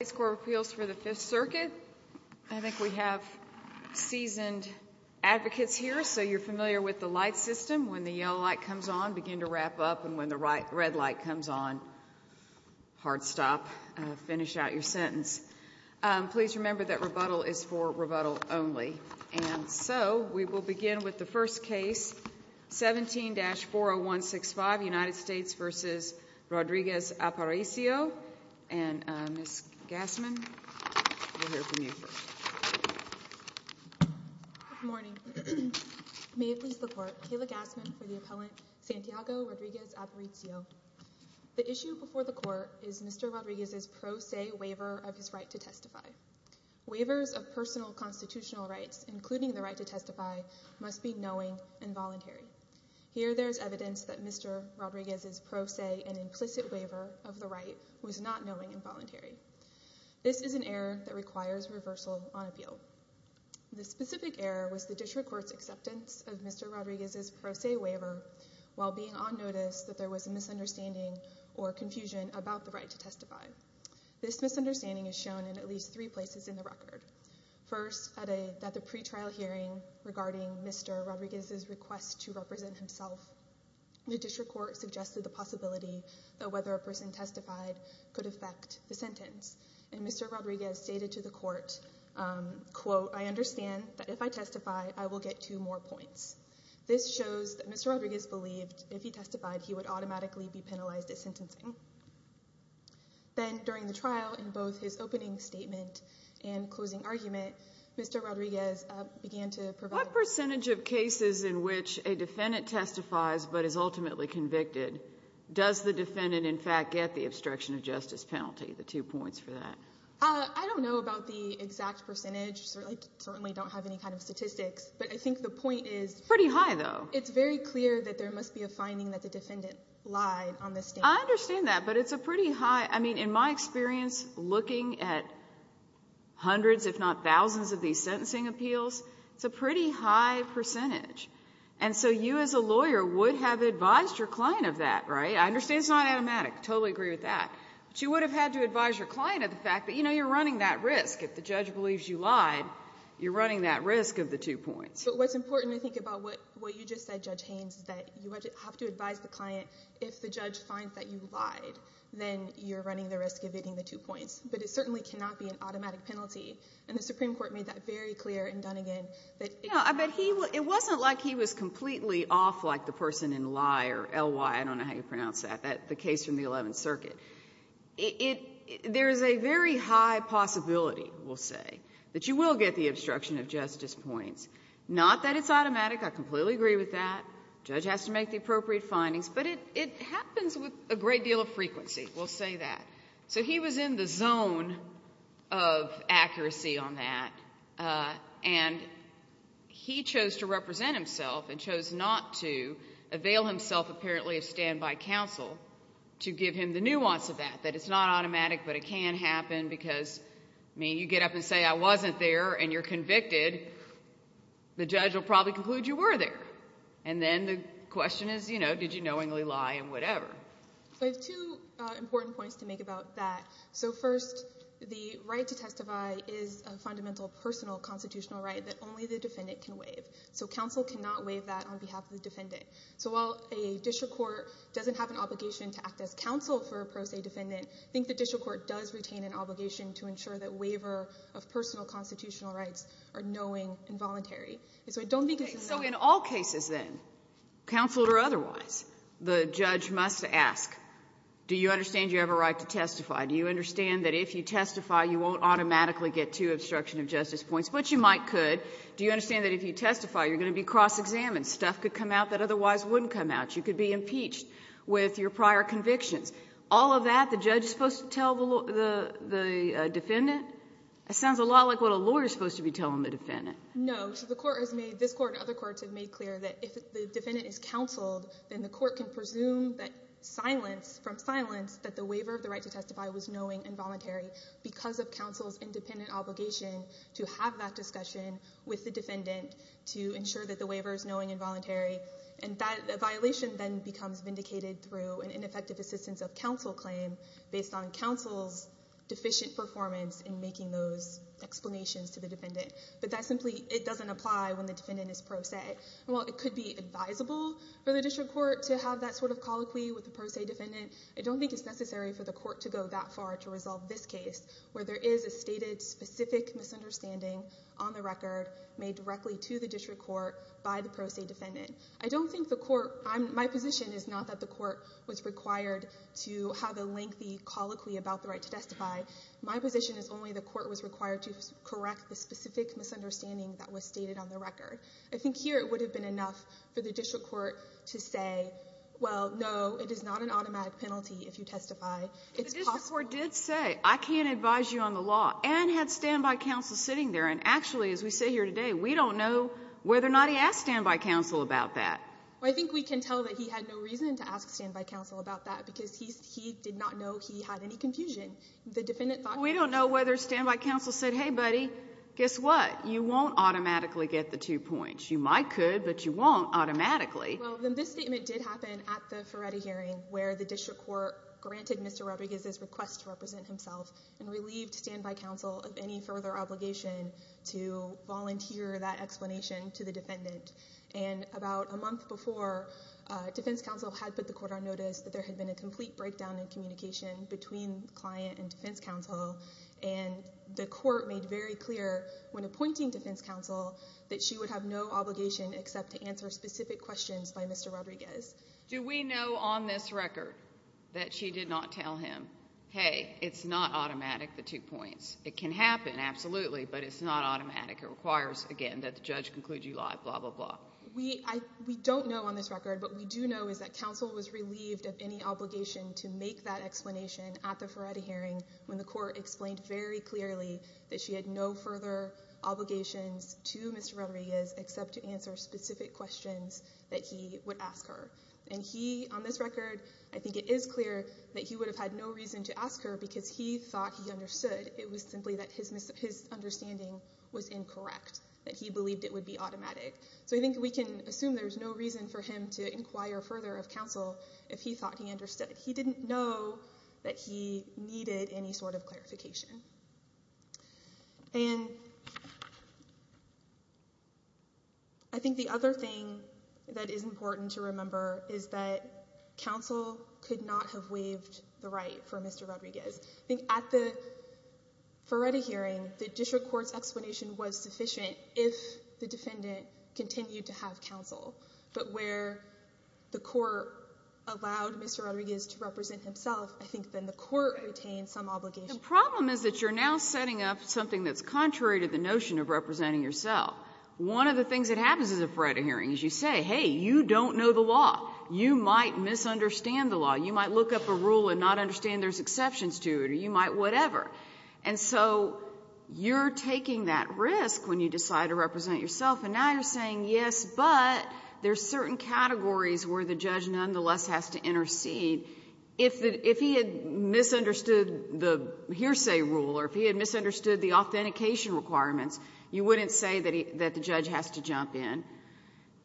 United States Court of Appeals for the Fifth Circuit. I think we have seasoned advocates here so you're familiar with the light system. When the yellow light comes on, begin to wrap up and when the red light comes on, hard stop, finish out your sentence. Please remember that rebuttal is for rebuttal only. And so, we will begin with the first case, 17-40165, United States v. Rodriguez-Aparicio. And Ms. Gassman, we'll hear from you first. Good morning. May it please the Court, Kayla Gassman for the appellant, Santiago Rodriguez-Aparicio. The issue before the Court is Mr. Rodriguez's pro se waiver of his right to testify. Waivers of personal constitutional rights, including the right to testify, must be knowing and Mr. Rodriguez's pro se and implicit waiver of the right was not knowing and voluntary. This is an error that requires reversal on appeal. The specific error was the district court's acceptance of Mr. Rodriguez's pro se waiver while being on notice that there was a misunderstanding or confusion about the right to testify. This misunderstanding is shown in at least three places in the record. First, at the pre-trial hearing regarding Mr. Rodriguez's request to represent himself, the district court suggested the possibility that whether a person testified could affect the sentence. And Mr. Rodriguez stated to the Court, quote, I understand that if I testify, I will get two more points. This shows that Mr. Rodriguez believed if he testified, he would automatically be penalized at sentencing. Then during the trial, in both his opening statement and closing argument, Mr. Rodriguez began to provide... What percentage of cases in which a defendant testifies but is ultimately convicted, does the defendant, in fact, get the obstruction of justice penalty, the two points for that? I don't know about the exact percentage. I certainly don't have any kind of statistics. But I think the point is... Pretty high, though. It's very clear that there must be a finding that the defendant lied on this statement. I understand that, but it's a pretty high... I mean, in my experience, looking at hundreds, if not thousands of these sentencing appeals, it's a pretty high percentage. And so you, as a lawyer, would have advised your client of that, right? I understand it's not automatic. Totally agree with that. But you would have had to advise your client of the fact that, you know, you're running that risk. If the judge believes you lied, you're running that risk of the two points. But what's important, I think, about what you just said, Judge Haynes, is that you have to advise the client if the judge finds that you lied, then you're running the risk of getting the two points. But it certainly cannot be an automatic penalty. And the Supreme Court made that very clear in Dunnegan that... No, but he... It wasn't like he was completely off like the person in Ly or L-Y, I don't know how you pronounce that, the case from the Eleventh Circuit. There is a very high possibility, we'll say, that you will get the obstruction of justice points. Not that it's automatic. I completely agree with that. The judge has to make the appropriate findings. But it happens with a great deal of frequency. We'll say that. So he was in the zone of accuracy on that. And he chose to represent himself and chose not to avail himself, apparently, of standby counsel to give him the nuance of that, that it's not automatic but it can happen because, I mean, you get up and say, I wasn't there and you're convicted, the judge will probably conclude you were there. And then the question is, you know, did you knowingly lie and whatever. So I have two important points to make about that. So first, the right to testify is a fundamental personal constitutional right that only the defendant can waive. So counsel cannot waive that on behalf of the defendant. So while a district court doesn't have an obligation to act as counsel for a pro se defendant, I think the district court does retain an obligation to ensure that waiver of personal constitutional rights are knowing and voluntary. So I don't think... So in all cases, then, counseled or otherwise, the judge must ask, do you understand you have a right to testify? Do you understand that if you testify, you won't automatically get two obstruction of justice points? But you might could. Do you understand that if you testify, you're going to be cross-examined? Stuff could come out that otherwise wouldn't come out. You could be impeached with your prior convictions. All of that, the judge is supposed to tell the defendant? It sounds a lot like what a lawyer's supposed to be telling the defendant. No. So the court has made, this court and other courts have made clear that if the defendant is counseled, then the court can presume that silence, from silence, that the waiver of the right to testify was knowing and voluntary because of counsel's independent obligation to have that discussion with the defendant to ensure that the waiver is knowing and voluntary. And that violation then becomes vindicated through an ineffective assistance of counsel claim based on counsel's deficient performance in making those explanations to the defendant. But that simply, it doesn't apply when the defendant is pro se. While it could be advisable for the district court to have that sort of colloquy with the pro se defendant, I don't think it's necessary for the court to go that far to resolve this case where there is a stated specific misunderstanding on the record made directly to the district court by the pro se defendant. I don't think the court, my position is not that the court was required to have a lengthy colloquy about the right to testify. My position is only the court was required to correct the specific misunderstanding that was stated on the record. I think here it would have been enough for the district court to say, well, no, it is not an automatic penalty if you testify. It's possible. But the district court did say, I can't advise you on the law, and had standby counsel sitting there. And actually, as we say here today, we don't know whether or not he asked standby counsel about that. Well, I think we can tell that he had no reason to ask standby counsel about that because he did not know he had any confusion. The defendant thought... We don't know whether standby counsel said, hey, buddy, guess what? You won't automatically get the two points. You might could, but you won't automatically. Well, then this statement did happen at the Ferretti hearing where the district court granted Mr. Rodriguez's request to represent himself and relieved standby counsel of any further obligation to volunteer that explanation to the defendant. And about a month before, defense counsel had put the court on notice that there had been a complete breakdown in communication between client and defense counsel, and the court made very clear when appointing defense counsel that she would have no obligation except to answer specific questions by Mr. Rodriguez. Do we know on this record that she did not tell him, hey, it's not automatic, the two points? It can happen, absolutely, but it's not automatic. It requires, again, that the judge conclude you lie, blah, blah, blah. We don't know on this record, but we do know is that counsel was relieved of any obligation to make that explanation at the Ferretti hearing when the court explained very clearly that she had no further obligations to Mr. Rodriguez except to answer specific questions that he would ask her. And he, on this record, I think it is clear that he would have had no reason to ask her because he thought he understood. It was simply that his understanding was incorrect, that he believed it would be automatic. So I think we can assume there's no reason for him to inquire further of counsel if he thought he understood. He didn't know that he needed any sort of clarification. And I think the other thing that is important to remember is that counsel could not have waived the right for Mr. Rodriguez. I think at the Ferretti hearing, the district court's explanation was sufficient if the defendant continued to have counsel. But where the court allowed Mr. Rodriguez to represent himself, I think then the court retained some obligation. The problem is that you're now setting up something that's contrary to the notion of representing yourself. One of the things that happens at the Ferretti hearing is you say, hey, you don't know the law. You might misunderstand the law. You might look up a rule and not understand there's exceptions to it, or you might whatever. And so you're taking that risk when you decide to represent yourself, and now you're saying, yes, but there's certain categories where the judge nonetheless has to intercede. If he had misunderstood the hearsay rule or if he had misunderstood the authentication requirements, you wouldn't say that the judge has to jump in.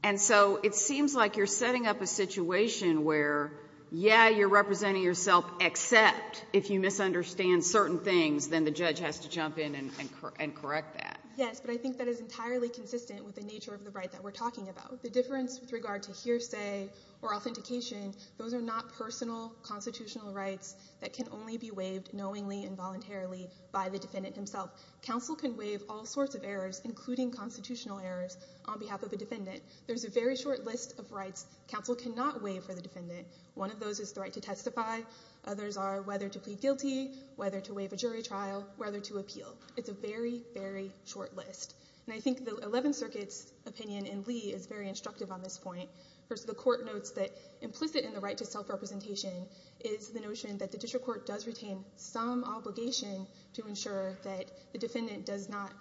And so it seems like you're setting up a situation where, yeah, you're representing yourself, except if you misunderstand certain things, then the judge has to jump in and correct that. Yes, but I think that is entirely consistent with the nature of the right that we're talking about. The difference with regard to hearsay or authentication, those are not personal constitutional rights that can only be waived knowingly and voluntarily by the defendant himself. Counsel can waive all sorts of errors, including constitutional errors, on behalf of a defendant. There's a very short list of rights counsel cannot waive for the defendant. One of those is the right to testify. Others are whether to plead guilty, whether to waive a jury trial, whether to appeal. It's a very, very short list. And I think the Eleventh Circuit's opinion in Lee is very instructive on this point. First, the court notes that implicit in the right to self-representation is the notion that the district court does retain some obligation to ensure that the defendant does not.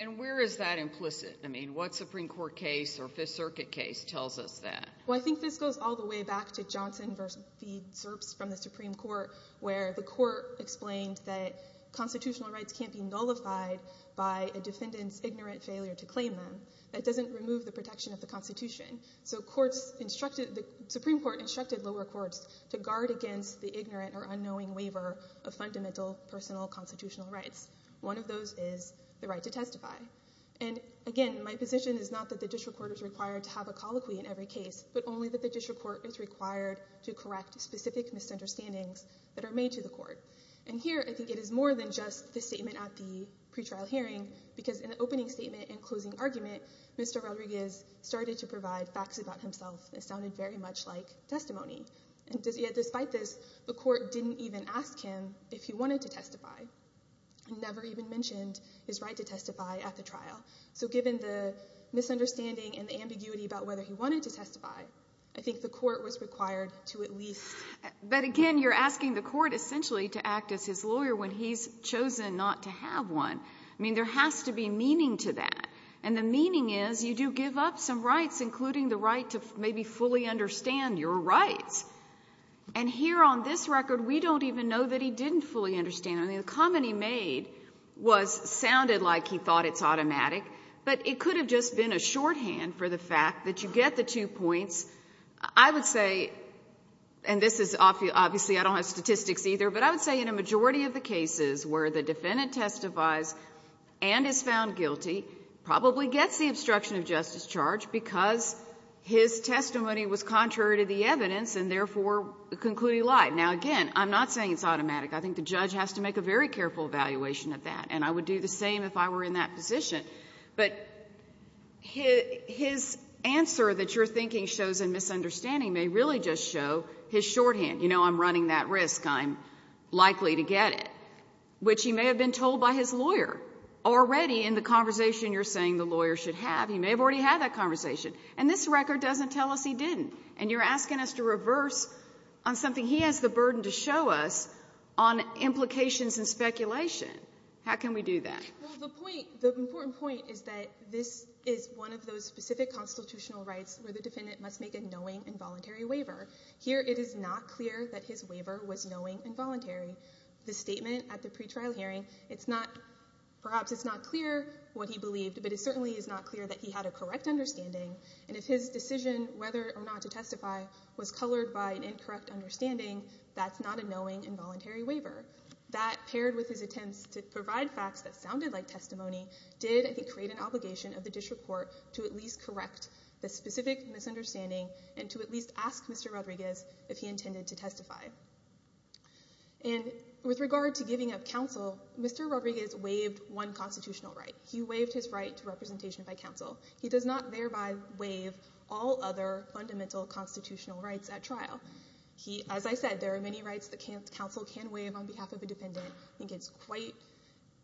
And where is that implicit? I mean, what Supreme Court case or Fifth Circuit case tells us that? Well, I think this goes all the way back to Johnson v. Zerps from the Supreme Court, where the court explained that constitutional rights can't be nullified by a defendant's ignorant failure to claim them. That doesn't remove the protection of the Constitution. So courts instructed, the Supreme Court instructed lower courts to guard against the ignorant or unknowing waiver of fundamental personal constitutional rights. One of those is the right to testify. And again, my position is not that the district court is required to have a colloquy in every case, but only that the district court is And here, I think it is more than just the statement at the pretrial hearing, because in the opening statement and closing argument, Mr. Rodriguez started to provide facts about himself. It sounded very much like testimony. And yet, despite this, the court didn't even ask him if he wanted to testify, never even mentioned his right to testify at the trial. So given the misunderstanding and the ambiguity about whether he wanted to testify, I think the court was required to at least... But again, you're asking the court essentially to act as his lawyer when he's chosen not to have one. I mean, there has to be meaning to that. And the meaning is, you do give up some rights, including the right to maybe fully understand your rights. And here on this record, we don't even know that he didn't fully understand. I mean, the comment he made was, sounded like he thought it's automatic, but it could have just been a shorthand for the fact that you get the two points. I would say, and this is obviously, I don't have statistics either, but I would say in a majority of the cases where the defendant testifies and is found guilty, probably gets the obstruction of justice charge because his testimony was contrary to the evidence and therefore concluding lie. Now, again, I'm not saying it's automatic. I think the judge has to make a very careful evaluation of that. And I would do the same if I were in that position. But his answer that you're thinking shows in misunderstanding may really just show his shorthand. You know, I'm running that risk. I'm likely to get it, which he may have been told by his lawyer already in the conversation you're saying the lawyer should have. He may have already had that conversation. And this record doesn't tell us he didn't. And you're asking us to reverse on something he has the burden to show us on implications and speculation. How can we do that? The point, the important point is that this is one of those specific constitutional rights where the defendant must make a knowing and voluntary waiver. Here, it is not clear that his waiver was knowing and voluntary. The statement at the pretrial hearing, it's not, perhaps it's not clear what he believed, but it certainly is not clear that he had a correct understanding. And if his decision whether or not to testify was colored by an incorrect understanding, that's not a knowing and voluntary waiver. That paired with his attempts to provide facts that sounded like testimony, did, I think, create an obligation of the district court to at least correct the specific misunderstanding and to at least ask Mr. Rodriguez if he intended to testify. And with regard to giving up counsel, Mr. Rodriguez waived one constitutional right. He waived his right to representation by counsel. He does not thereby waive all other fundamental constitutional rights at trial. He, as I said, there are many rights that counsel can waive on behalf of a defendant. I think it's quite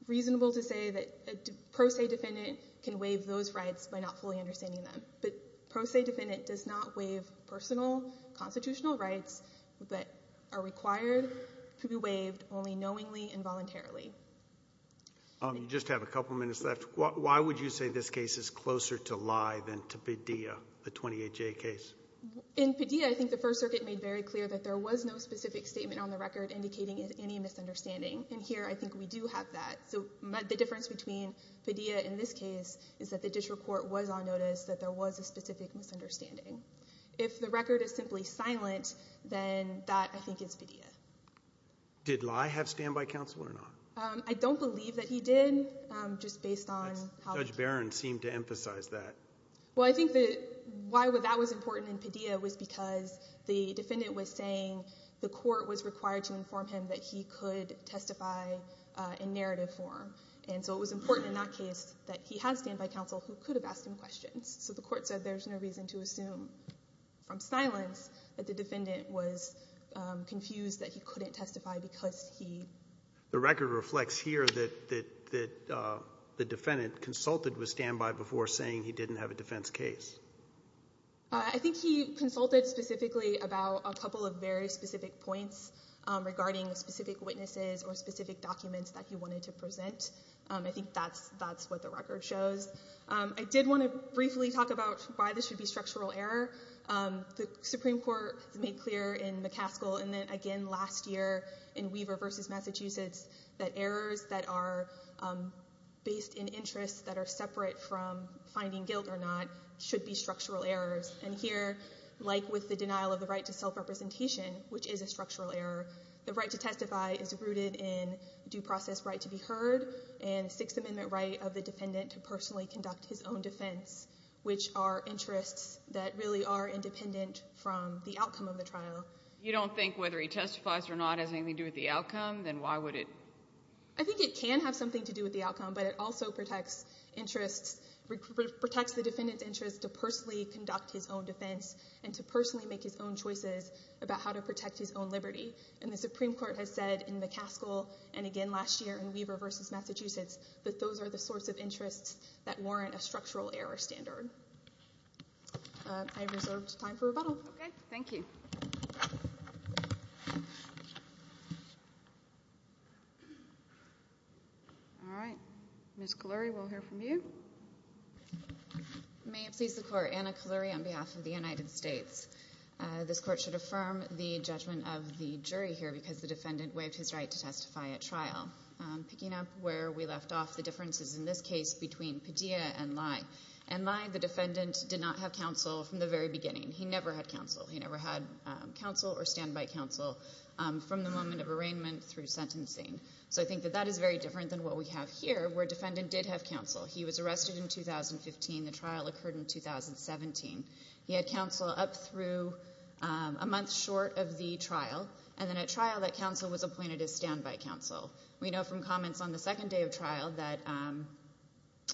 reasonable to say that a pro se defendant can waive those rights by not fully understanding them. But a pro se defendant does not waive personal constitutional rights that are required to be waived only knowingly and voluntarily. You just have a couple of minutes left. Why would you say this case is closer to lie than to Padilla, the 28J case? In Padilla, I think the First Circuit made very clear that there was no specific statement on the record indicating any misunderstanding. And here, I think we do have that. So the difference between Padilla and this case is that the district court was on notice that there was a specific misunderstanding. If the record is simply silent, then that, I think, is Padilla. Did lie have standby counsel or not? I don't believe that he did, just based on how... Judge Barron seemed to emphasize that. Well, I think that why that was important in Padilla was because the defendant was saying the court was required to inform him that he could testify in narrative form. And so it was important in that case that he had standby counsel who could have asked him questions. So the court said there's no reason to assume from silence that the defendant was confused that he couldn't testify because he... The record reflects here that the defendant consulted with standby before saying he didn't have a defense case. I think he consulted specifically about a couple of very specific points regarding specific witnesses or specific documents that he wanted to present. I think that's what the record shows. I did want to briefly talk about why this should be structural error. The Supreme Court made clear in McCaskill and then again last year in Weaver v. Massachusetts that errors that are based in And here, like with the denial of the right to self-representation, which is a structural error, the right to testify is rooted in due process right to be heard and Sixth Amendment right of the defendant to personally conduct his own defense, which are interests that really are independent from the outcome of the trial. You don't think whether he testifies or not has anything to do with the outcome? Then why would it... I think it can have something to do with the outcome, but it also protects interests, protects the defendant's interest to personally conduct his own defense and to personally make his own choices about how to protect his own liberty. And the Supreme Court has said in McCaskill and again last year in Weaver v. Massachusetts that those are the sorts of interests that warrant a structural error standard. I have reserved time for rebuttal. Okay, thank you. All right. Ms. Cullery, we'll hear from you. May it please the Court, Anna Cullery on behalf of the United States. This Court should affirm the judgment of the jury here because the defendant waived his right to testify at trial. Picking up where we left off, the differences in this case between Padilla and Lye. In Lye, the defendant did not have counsel from the very beginning. He never had counsel. He never had counsel or standby counsel from the moment of arraignment through sentencing. So I think that that is very different than what we have here where a defendant did have counsel. He was arrested in 2015. The trial occurred in 2017. He had counsel up through a month short of the trial. And then at trial, that counsel was appointed as standby counsel. We know from comments on the second day of trial that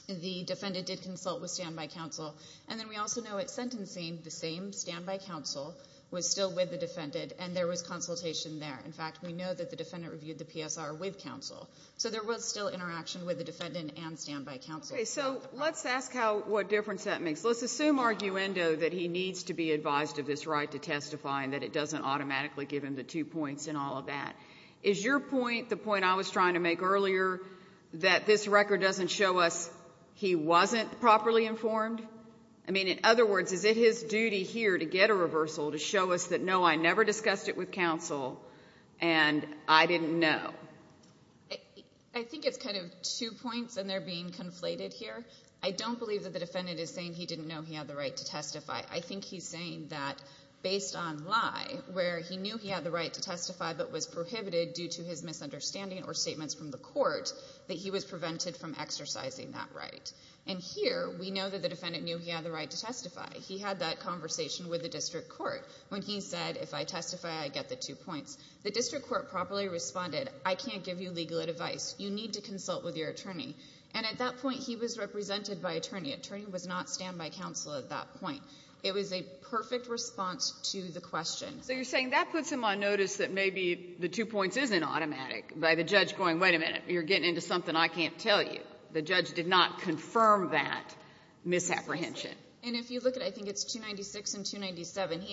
the defendant did consult with standby counsel. And then we also know at sentencing, the same standby counsel was still with the defendant and there was consultation there. In fact, we know that the defendant reviewed the PSR with counsel. So there was still interaction with the defendant and standby counsel. Okay. So let's ask how, what difference that makes. Let's assume arguendo that he needs to be advised of this right to testify and that it doesn't automatically give him the two points in all of that. Is your point, the point I was trying to make earlier, that this record doesn't show us he wasn't properly informed? I mean, in other words, is it his duty here to get a reversal to show us that, no, I never discussed it with counsel and I didn't know? I think it's kind of two points and they're being conflated here. I don't believe that the defendant is saying he didn't know he had the right to testify. I think he's saying that based on lie, where he knew he had the right to testify but was prohibited due to his misunderstanding or statements from the court, that he was prevented from exercising that right. And here, we know that the defendant knew he had the right to testify. He had that conversation with the district court when he said, if I testify, I get the two points. The district court properly responded, I can't give you legal advice. You need to consult with your attorney. And at that point, he was represented by attorney. Attorney was not standby counsel at that point. It was a perfect response to the question. So you're saying that puts him on notice that maybe the two points isn't automatic by the judge going, wait a minute, you're getting into something I can't tell you. The judge did not confirm that misapprehension. And if you look at, I think it's 296 and 297,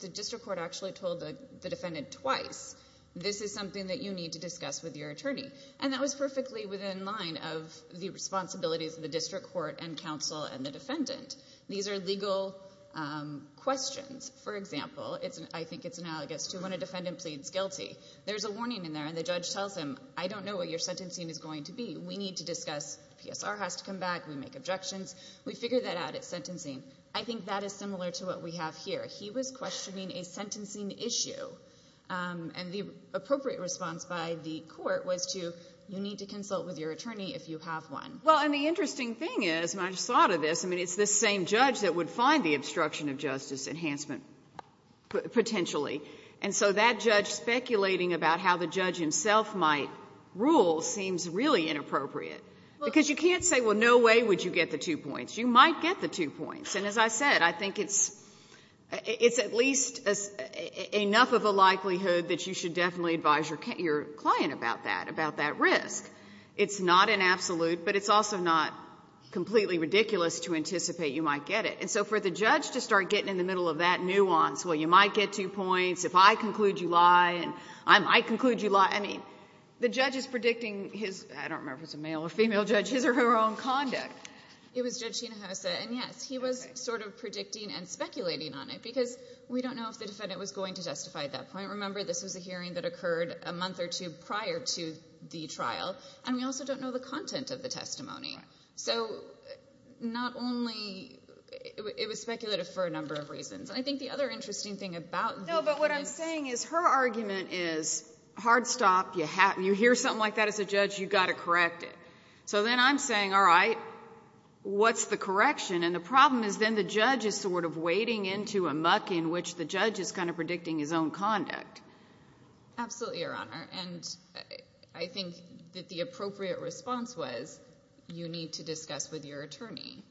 the district court actually told the defendant twice, this is something that you need to discuss with your attorney. And that was perfectly within line of the responsibilities of the district court and counsel and the defendant. These are legal questions. For example, I think it's analogous to when a defendant pleads guilty. There's a warning in there, and the judge tells him, I don't know what your sentencing is going to be. We need to discuss. PSR has to come back. We make objections. We figure that out at sentencing. I think that is similar to what we have here. He was questioning a sentencing issue. And the appropriate response by the court was to, you need to consult with your attorney if you have one. Well, and the interesting thing is, and I just thought of this, I mean, it's the same judge that would find the obstruction of justice enhancement potentially. And so that judge speculating about how the judge himself might rule seems really inappropriate. Because you can't say, well, no way would you get the two points. You might get the two points. And as I said, I think it's at least enough of a likelihood that you should definitely advise your client about that, about that risk. It's not an absolute, but it's also not completely ridiculous to anticipate you might get it. And so for the judge to start getting in the middle of that nuance, well, you might get two points. If I conclude you lie, I might conclude you lie. I mean, the judge is predicting his, I don't remember if it's a male or female judge, his or her own conduct. It was Judge Hinojosa. And yes, he was sort of predicting and speculating on it. Because we don't know if the defendant was going to justify that point. Remember, this was a hearing that occurred a month or two prior to the trial. And we also don't know the content of the testimony. So not only, it was speculative for a number of reasons. And I think the other interesting thing about this is... No, but what I'm saying is her argument is, hard stop, you hear something like that as a judge, you've got to correct it. So then I'm saying, all right, what's the correction? And the problem is then the judge is sort of wading into a muck in which the judge is kind of predicting his own conduct. Absolutely, Your Honor. And I think that the appropriate response was, you need to discuss with your attorney.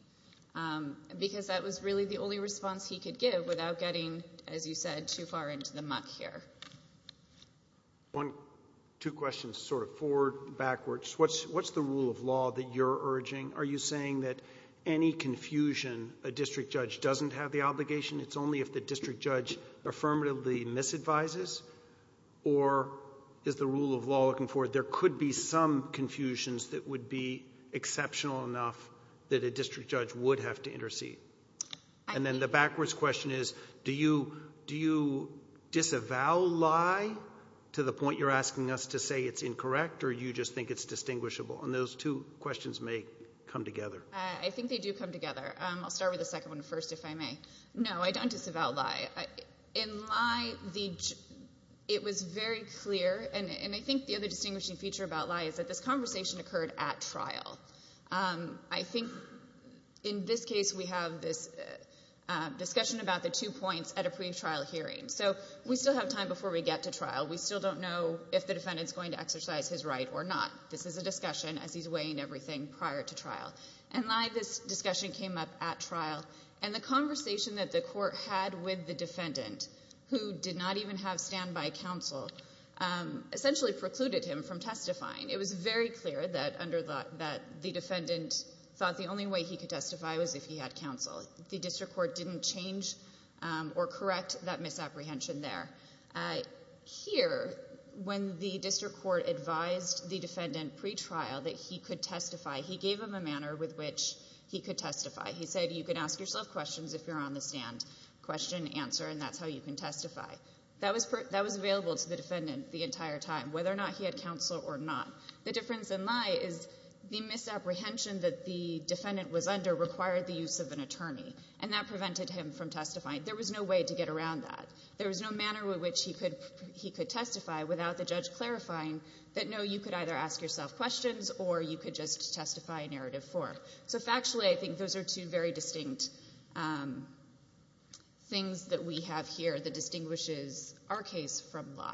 Because that was really the only response he could give without getting, as you said, too far into the muck here. Two questions, sort of forward, backwards. What's the rule of law that you're urging? Are you saying that any confusion, a district judge doesn't have the obligation, it's only if the district judge affirmatively misadvises? Or is the rule of law looking for, there could be some confusions that would be exceptional enough that a district judge would have to intercede? And then the backwards question is, do you disavow lie to the point you're asking us to say it's incorrect or you just think it's distinguishable? And those two questions may come together. I think they do come together. I'll start with the second one first, if I may. No, I don't disavow lie. In lie, it was very clear, and I think the other distinguishing feature about lie is that this conversation occurred at trial. I think in this case, we have this discussion about the two points at a pre-trial hearing. So we still have time before we get to trial. We still don't know if the defendant's going to exercise his right or not. This is a discussion as he's weighing everything prior to trial. And lie, this discussion came up at trial. And the conversation that the court had with the defendant, who did not even have standby counsel, essentially precluded him from testifying. It was very clear that the defendant thought the only way he could testify was if he had counsel. The district court didn't change or correct that misapprehension there. Here, when the district court advised the defendant pre-trial that he could testify, he gave him a manner with which he could testify. He said, you can ask yourself questions if you're on the stand. Question, answer, and that's how you can testify. That was available to the defendant the entire time, whether or not he had counsel or not. The difference in lie is the misapprehension that the defendant was under required the use of an attorney. And that prevented him from testifying. There was no way to get around that. There was no manner with which he could testify without the judge clarifying that, no, you could either ask yourself questions or you could just testify in narrative four. So factually, I think those are two very distinct things that we have here that distinguishes our case from lie.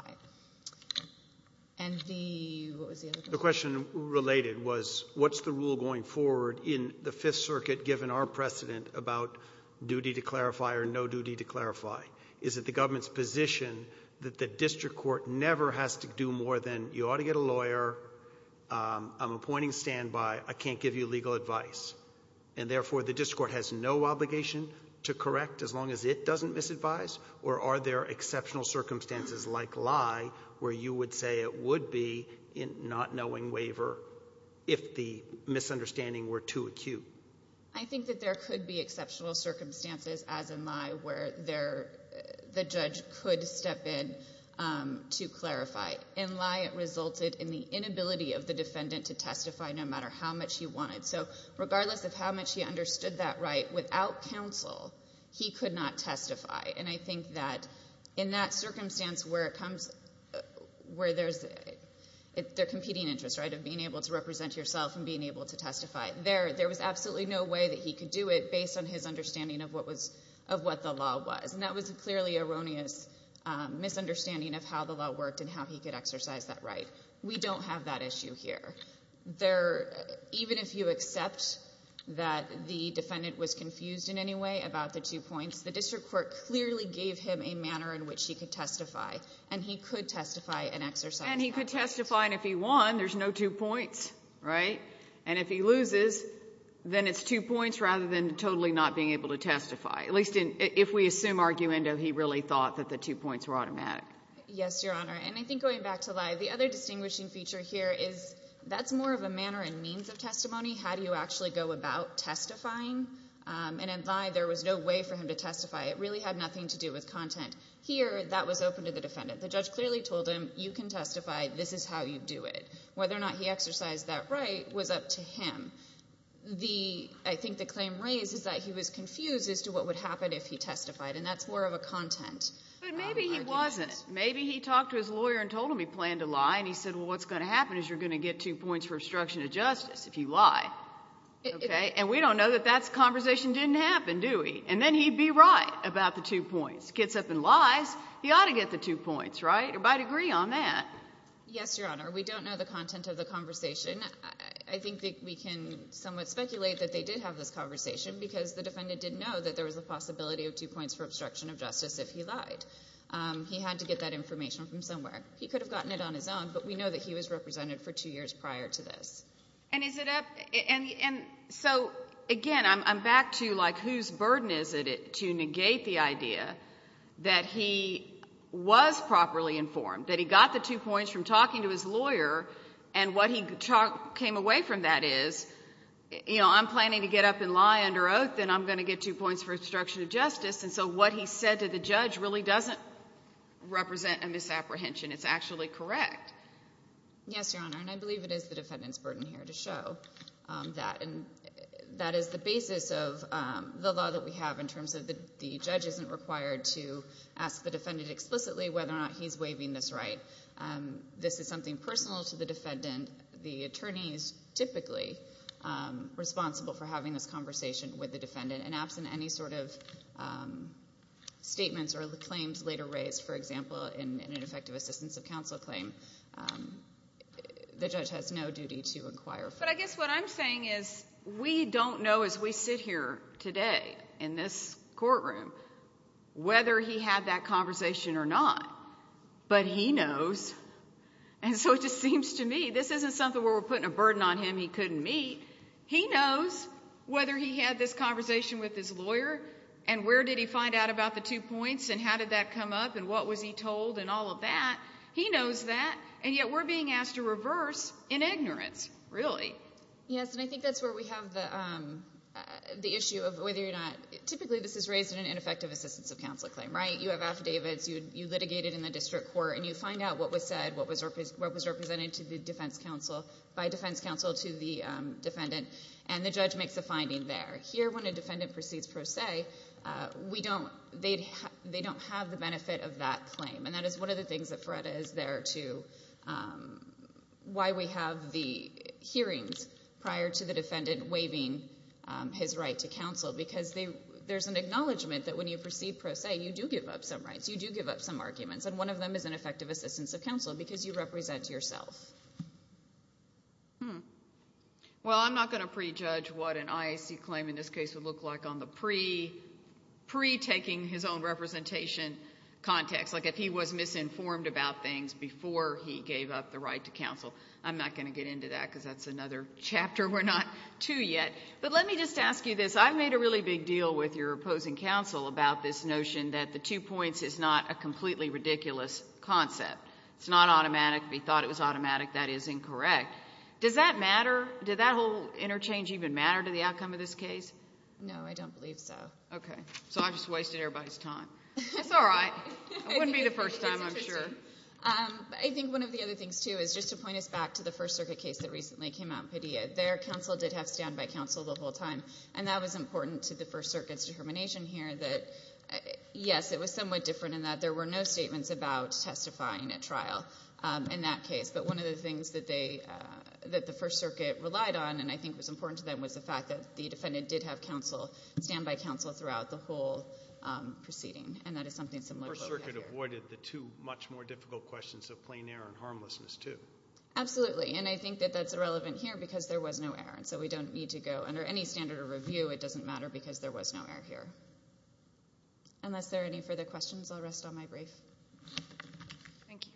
And the, what was the other question? The question related was, what's the rule going forward in the Fifth Circuit given our precedent about duty to clarify or no duty to clarify? Is it the government's position that the district court never has to do more than, you ought to get a lawyer, I'm appointing standby, I can't give you legal advice. And therefore, the district court has no obligation to correct as long as it doesn't misadvise? Or are there exceptional circumstances like lie where you would say it would be not knowing waiver if the misunderstanding were too acute? I think that there could be exceptional circumstances as in lie where the judge could step in to clarify. In lie, it resulted in the inability of the defendant to testify no matter how much he wanted. So regardless of how much he understood that right, without counsel, he could not testify. And I think that in that circumstance where it comes, where there's a competing interest of being able to represent yourself and being able to testify, there was absolutely no way that he could do it based on his understanding of what the law was. And that was a clearly erroneous misunderstanding of how the law worked and how he could exercise that right. We don't have that issue here. Even if you accept that the defendant was confused in any way about the two points, the district court clearly gave him a manner in which he could testify. And he could testify, and if he won, there's no two points. And if he loses, then it's two points rather than totally not being able to testify. At least if we assume arguendo, he really thought that the two points were automatic. Yes, Your Honor, and I think going back to Lye, the other distinguishing feature here is that's more of a manner and means of testimony. How do you actually go about testifying? And in Lye, there was no way for him to testify. It really had nothing to do with content. Here, that was open to the defendant. The judge clearly told him, you can testify. This is how you do it. Whether or not he exercised that right was up to him. I think the claim raised is that he was confused as to what would happen if he testified, and that's more of a content argument. But maybe he wasn't. Maybe he talked to his lawyer and told him he planned to lie, and he said, well, what's going to happen is you're going to get two points for obstruction of justice if you lie, okay? And we don't know that that conversation didn't happen, do we? And then he'd be right about the two points. Gets up and lies, he ought to get the two points, right? Or I'd agree on that. Yes, Your Honor, we don't know the content of the conversation. I think that we can somewhat speculate that they did have this conversation because the defendant didn't know that there was a possibility of two points for obstruction of justice if he lied. He had to get that information from somewhere. He could have gotten it on his own, but we know that he was represented for two years prior to this. And so, again, I'm back to, like, whose burden is it to negate the idea that he was properly informed, that he got the two points from talking to his lawyer and what he came away from that is, you know, I'm planning to get up and lie under oath and I'm going to get two points for obstruction of justice and so what he said to the judge really doesn't represent a misapprehension. It's actually correct. Yes, Your Honor, and I believe it is the defendant's burden here to show that. And that is the basis of the law that we have in terms of the judge isn't required to ask the defendant explicitly whether or not he's waiving this right. This is something personal to the defendant. The attorney is typically responsible for having this conversation with the defendant and absent any sort of statements or claims later raised, for example, in an effective assistance of counsel claim, the judge has no duty to inquire further. But I guess what I'm saying is we don't know as we sit here today in this courtroom whether he had that conversation or not, but he knows. And so it just seems to me this isn't something where we're putting a burden on him he couldn't meet. He knows whether he had this conversation with his lawyer and where did he find out about the two points and how did that come up and what was he told and all of that. He knows that and yet we're being asked to reverse in ignorance. Really. Yes, and I think that's where we have the issue of whether or not you go to the district court and you find out what was said what was represented to the defense counsel by defense counsel to the defendant and the judge makes a finding there. Here when a defendant proceeds pro se they don't have the benefit of that claim and that is one of the things that FREDA is there to why we have the hearings prior to the defendant waiving his right to counsel because there's an acknowledgment that when you proceed pro se you do give up some rights, you do give up some arguments and one of them is an effective assistance of counsel because you represent yourself. Well, I'm not going to prejudge what an IAC claim in this case would look like on the pre-taking his own representation context like if he was misinformed about things before he gave up the right to counsel I'm not going to get into that because that's another chapter we're not to yet, but let me just ask you this I've made a really big deal with your opposing counsel about this notion that the two points is not a completely ridiculous concept it's not automatic, we thought it was automatic that is incorrect. Does that matter? Did that whole interchange even matter to the outcome of this case? No, I don't believe so. Okay, so I've just wasted everybody's time. It's alright, it wouldn't be the first time I'm sure. I think one of the other things too is just to point us back to the First Circuit case that recently came out in Padilla their counsel did have stand-by counsel the whole time and that was important to the First Circuit's determination here that yes, it was somewhat different in that there were no statements about testifying at trial in that case but one of the things that the First Circuit relied on and I think was important to them was the fact that the defendant did have stand-by counsel throughout the whole proceeding and that is something similar to what we have here. The First Circuit avoided the two much more difficult questions of plain error and harmlessness too. Absolutely, and I think that that's irrelevant here because there was no error and so we don't need to go under any standard of review it doesn't matter because there was no error here. Unless there are any further questions I'll rest on my brief. Thank you.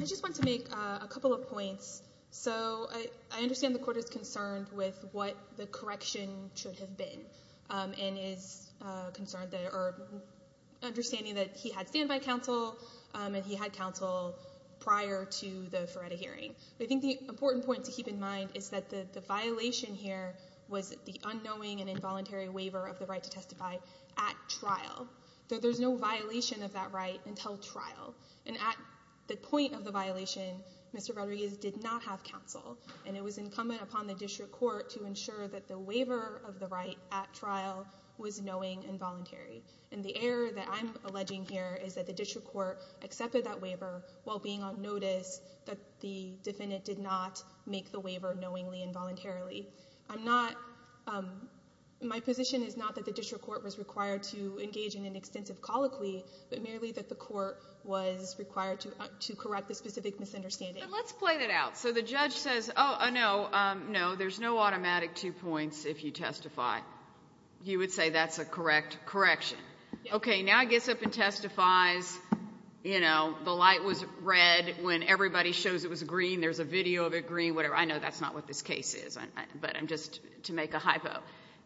I just want to make a couple of points so I understand the court is concerned with what the correction should have been and is concerned that or understanding that he had stand-by counsel and he had counsel prior to the Feretta hearing but I think the important point to keep in mind and the stand-by counsel and the stand-by counsel is that the violation here was the unknowing and involuntary waiver of the right to testify at trial. There's no violation of that right until trial and at the point of the violation Mr. Rodriguez did not have counsel and it was incumbent upon the district court to ensure that the waiver of the right at trial was knowing and voluntary and the error that I'm alleging here is that the district court accepted that waiver while being on notice that the defendant did not make the waiver knowingly and voluntarily. I'm not my position is not that the district court was required to engage in an extensive colloquy but merely that the court was required to correct the specific misunderstanding. Let's play that out. So the judge says no there's no automatic two points if you testify. You would say that's a correct correction. Okay now he gets up and testifies you know the light was red when everybody shows it was green there's a video of it green whatever I know that's not what this case is but I'm just to make a hypo.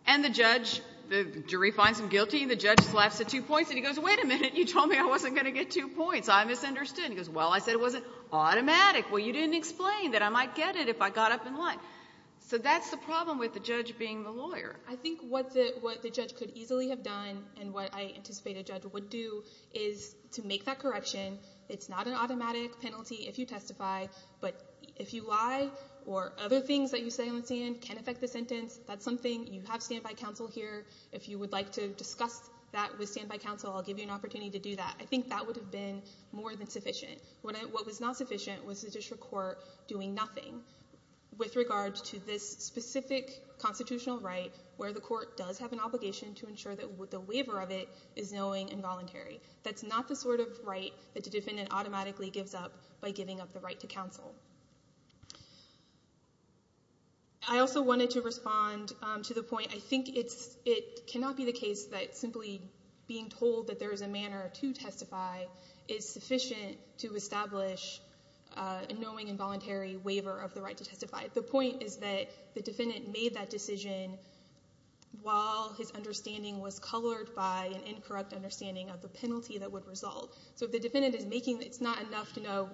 And the judge the jury finds him guilty the judge laughs at two points and he goes wait a minute you told me I wasn't going to get two points I misunderstood. He goes well I said it wasn't automatic well you didn't explain that I might get it if I got up in line. So that's the problem with the judge being the lawyer. I think what the judge could easily have done and what I anticipate a judge would do is to make that correction it's not an automatic penalty if you testify but if you lie or other things that you say on the stand can affect the sentence that's something you have standby counsel here if you would like to discuss that with standby counsel I'll give you an opportunity to do that. I think that would have been more than sufficient. What was not sufficient was the district court doing nothing with regards to this specific constitutional right where the court does have an obligation to ensure that with the waiver of it is knowing involuntary. That's not the sort of right that the defendant automatically gives up by giving up the right to counsel. I also wanted to respond to the point I think it's it cannot be the case that simply being told that there is a manner to testify a knowing involuntary waiver of the right to testify. The point is that the defendant made that decision while his understanding was colored by an incorrect understanding of the penalty that would result. So the defendant is making it's not enough to know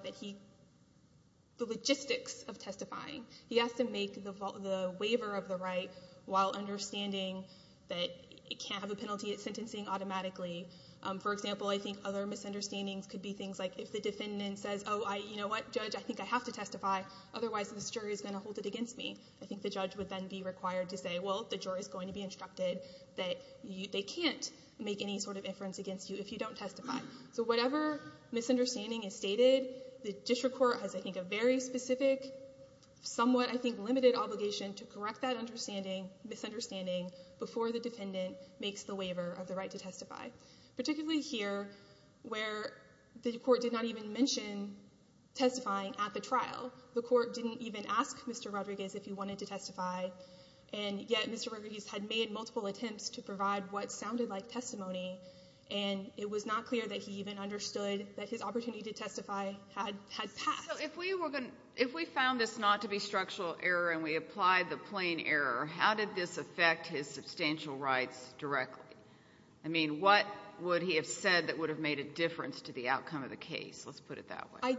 the logistics of testifying. He has to make the waiver of the right while understanding that it can't have a penalty it's sentencing automatically. For example I think other misunderstandings could be things like if the defendant says oh you know what judge I think I have to testify otherwise this jury is going to hold it against me. I think the judge would then be required to say well the jury is going to be instructed that they can't make any sort of inference against you if you don't testify. So whatever misunderstanding is stated the district court has I think a very specific somewhat I think limited obligation to correct that understanding misunderstanding before the defendant makes the waiver of the right to testify. Particularly here where the court did not even mention testifying at the trial. The court didn't even ask Mr. Rodriguez if he wanted to testify and yet Mr. Rodriguez had made multiple attempts to provide what sounded like testimony and it was not clear that he even understood that his opportunity to testify had passed. So if we found this not to be structural error and we applied the plain error how did this affect his substantial rights directly? I mean what would he have said that would have made a difference to the outcome of the case? Let's put it that way. I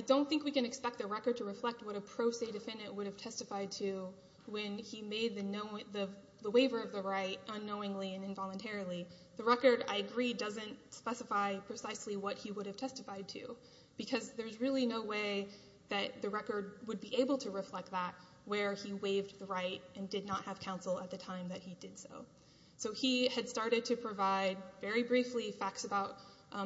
don't think we can expect the record to reflect what a pro se defendant would have testified to when he made the waiver of the right unknowingly and involuntarily. The record I agree doesn't specify precisely what he would have testified to because there's really no way that the record would be able to reflect that where he waived the right and did not have the opportunity to testify. He had started to provide very briefly facts about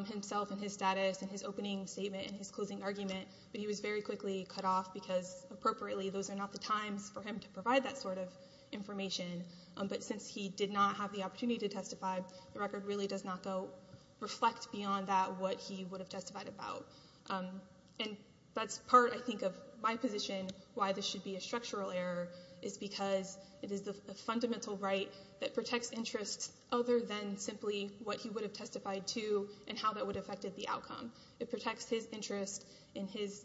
himself and his status and his opening statement and his closing argument but he was very quickly cut off because appropriately those are not the times for him to provide that sort of information but since he did not have the opportunity to testify the record really does not reflect beyond that what he would have testified about. That's part I think of my position why this should be a other than simply what he would have testified to and how that would have affected the outcome. It protects his interest in his,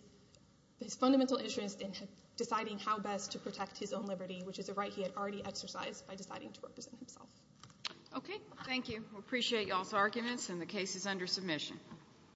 his fundamental interest in deciding how best to protect his own liberty which is a right he had already exercised by deciding to represent himself. Okay. Thank you. We appreciate y'all's arguments and the case is under submission.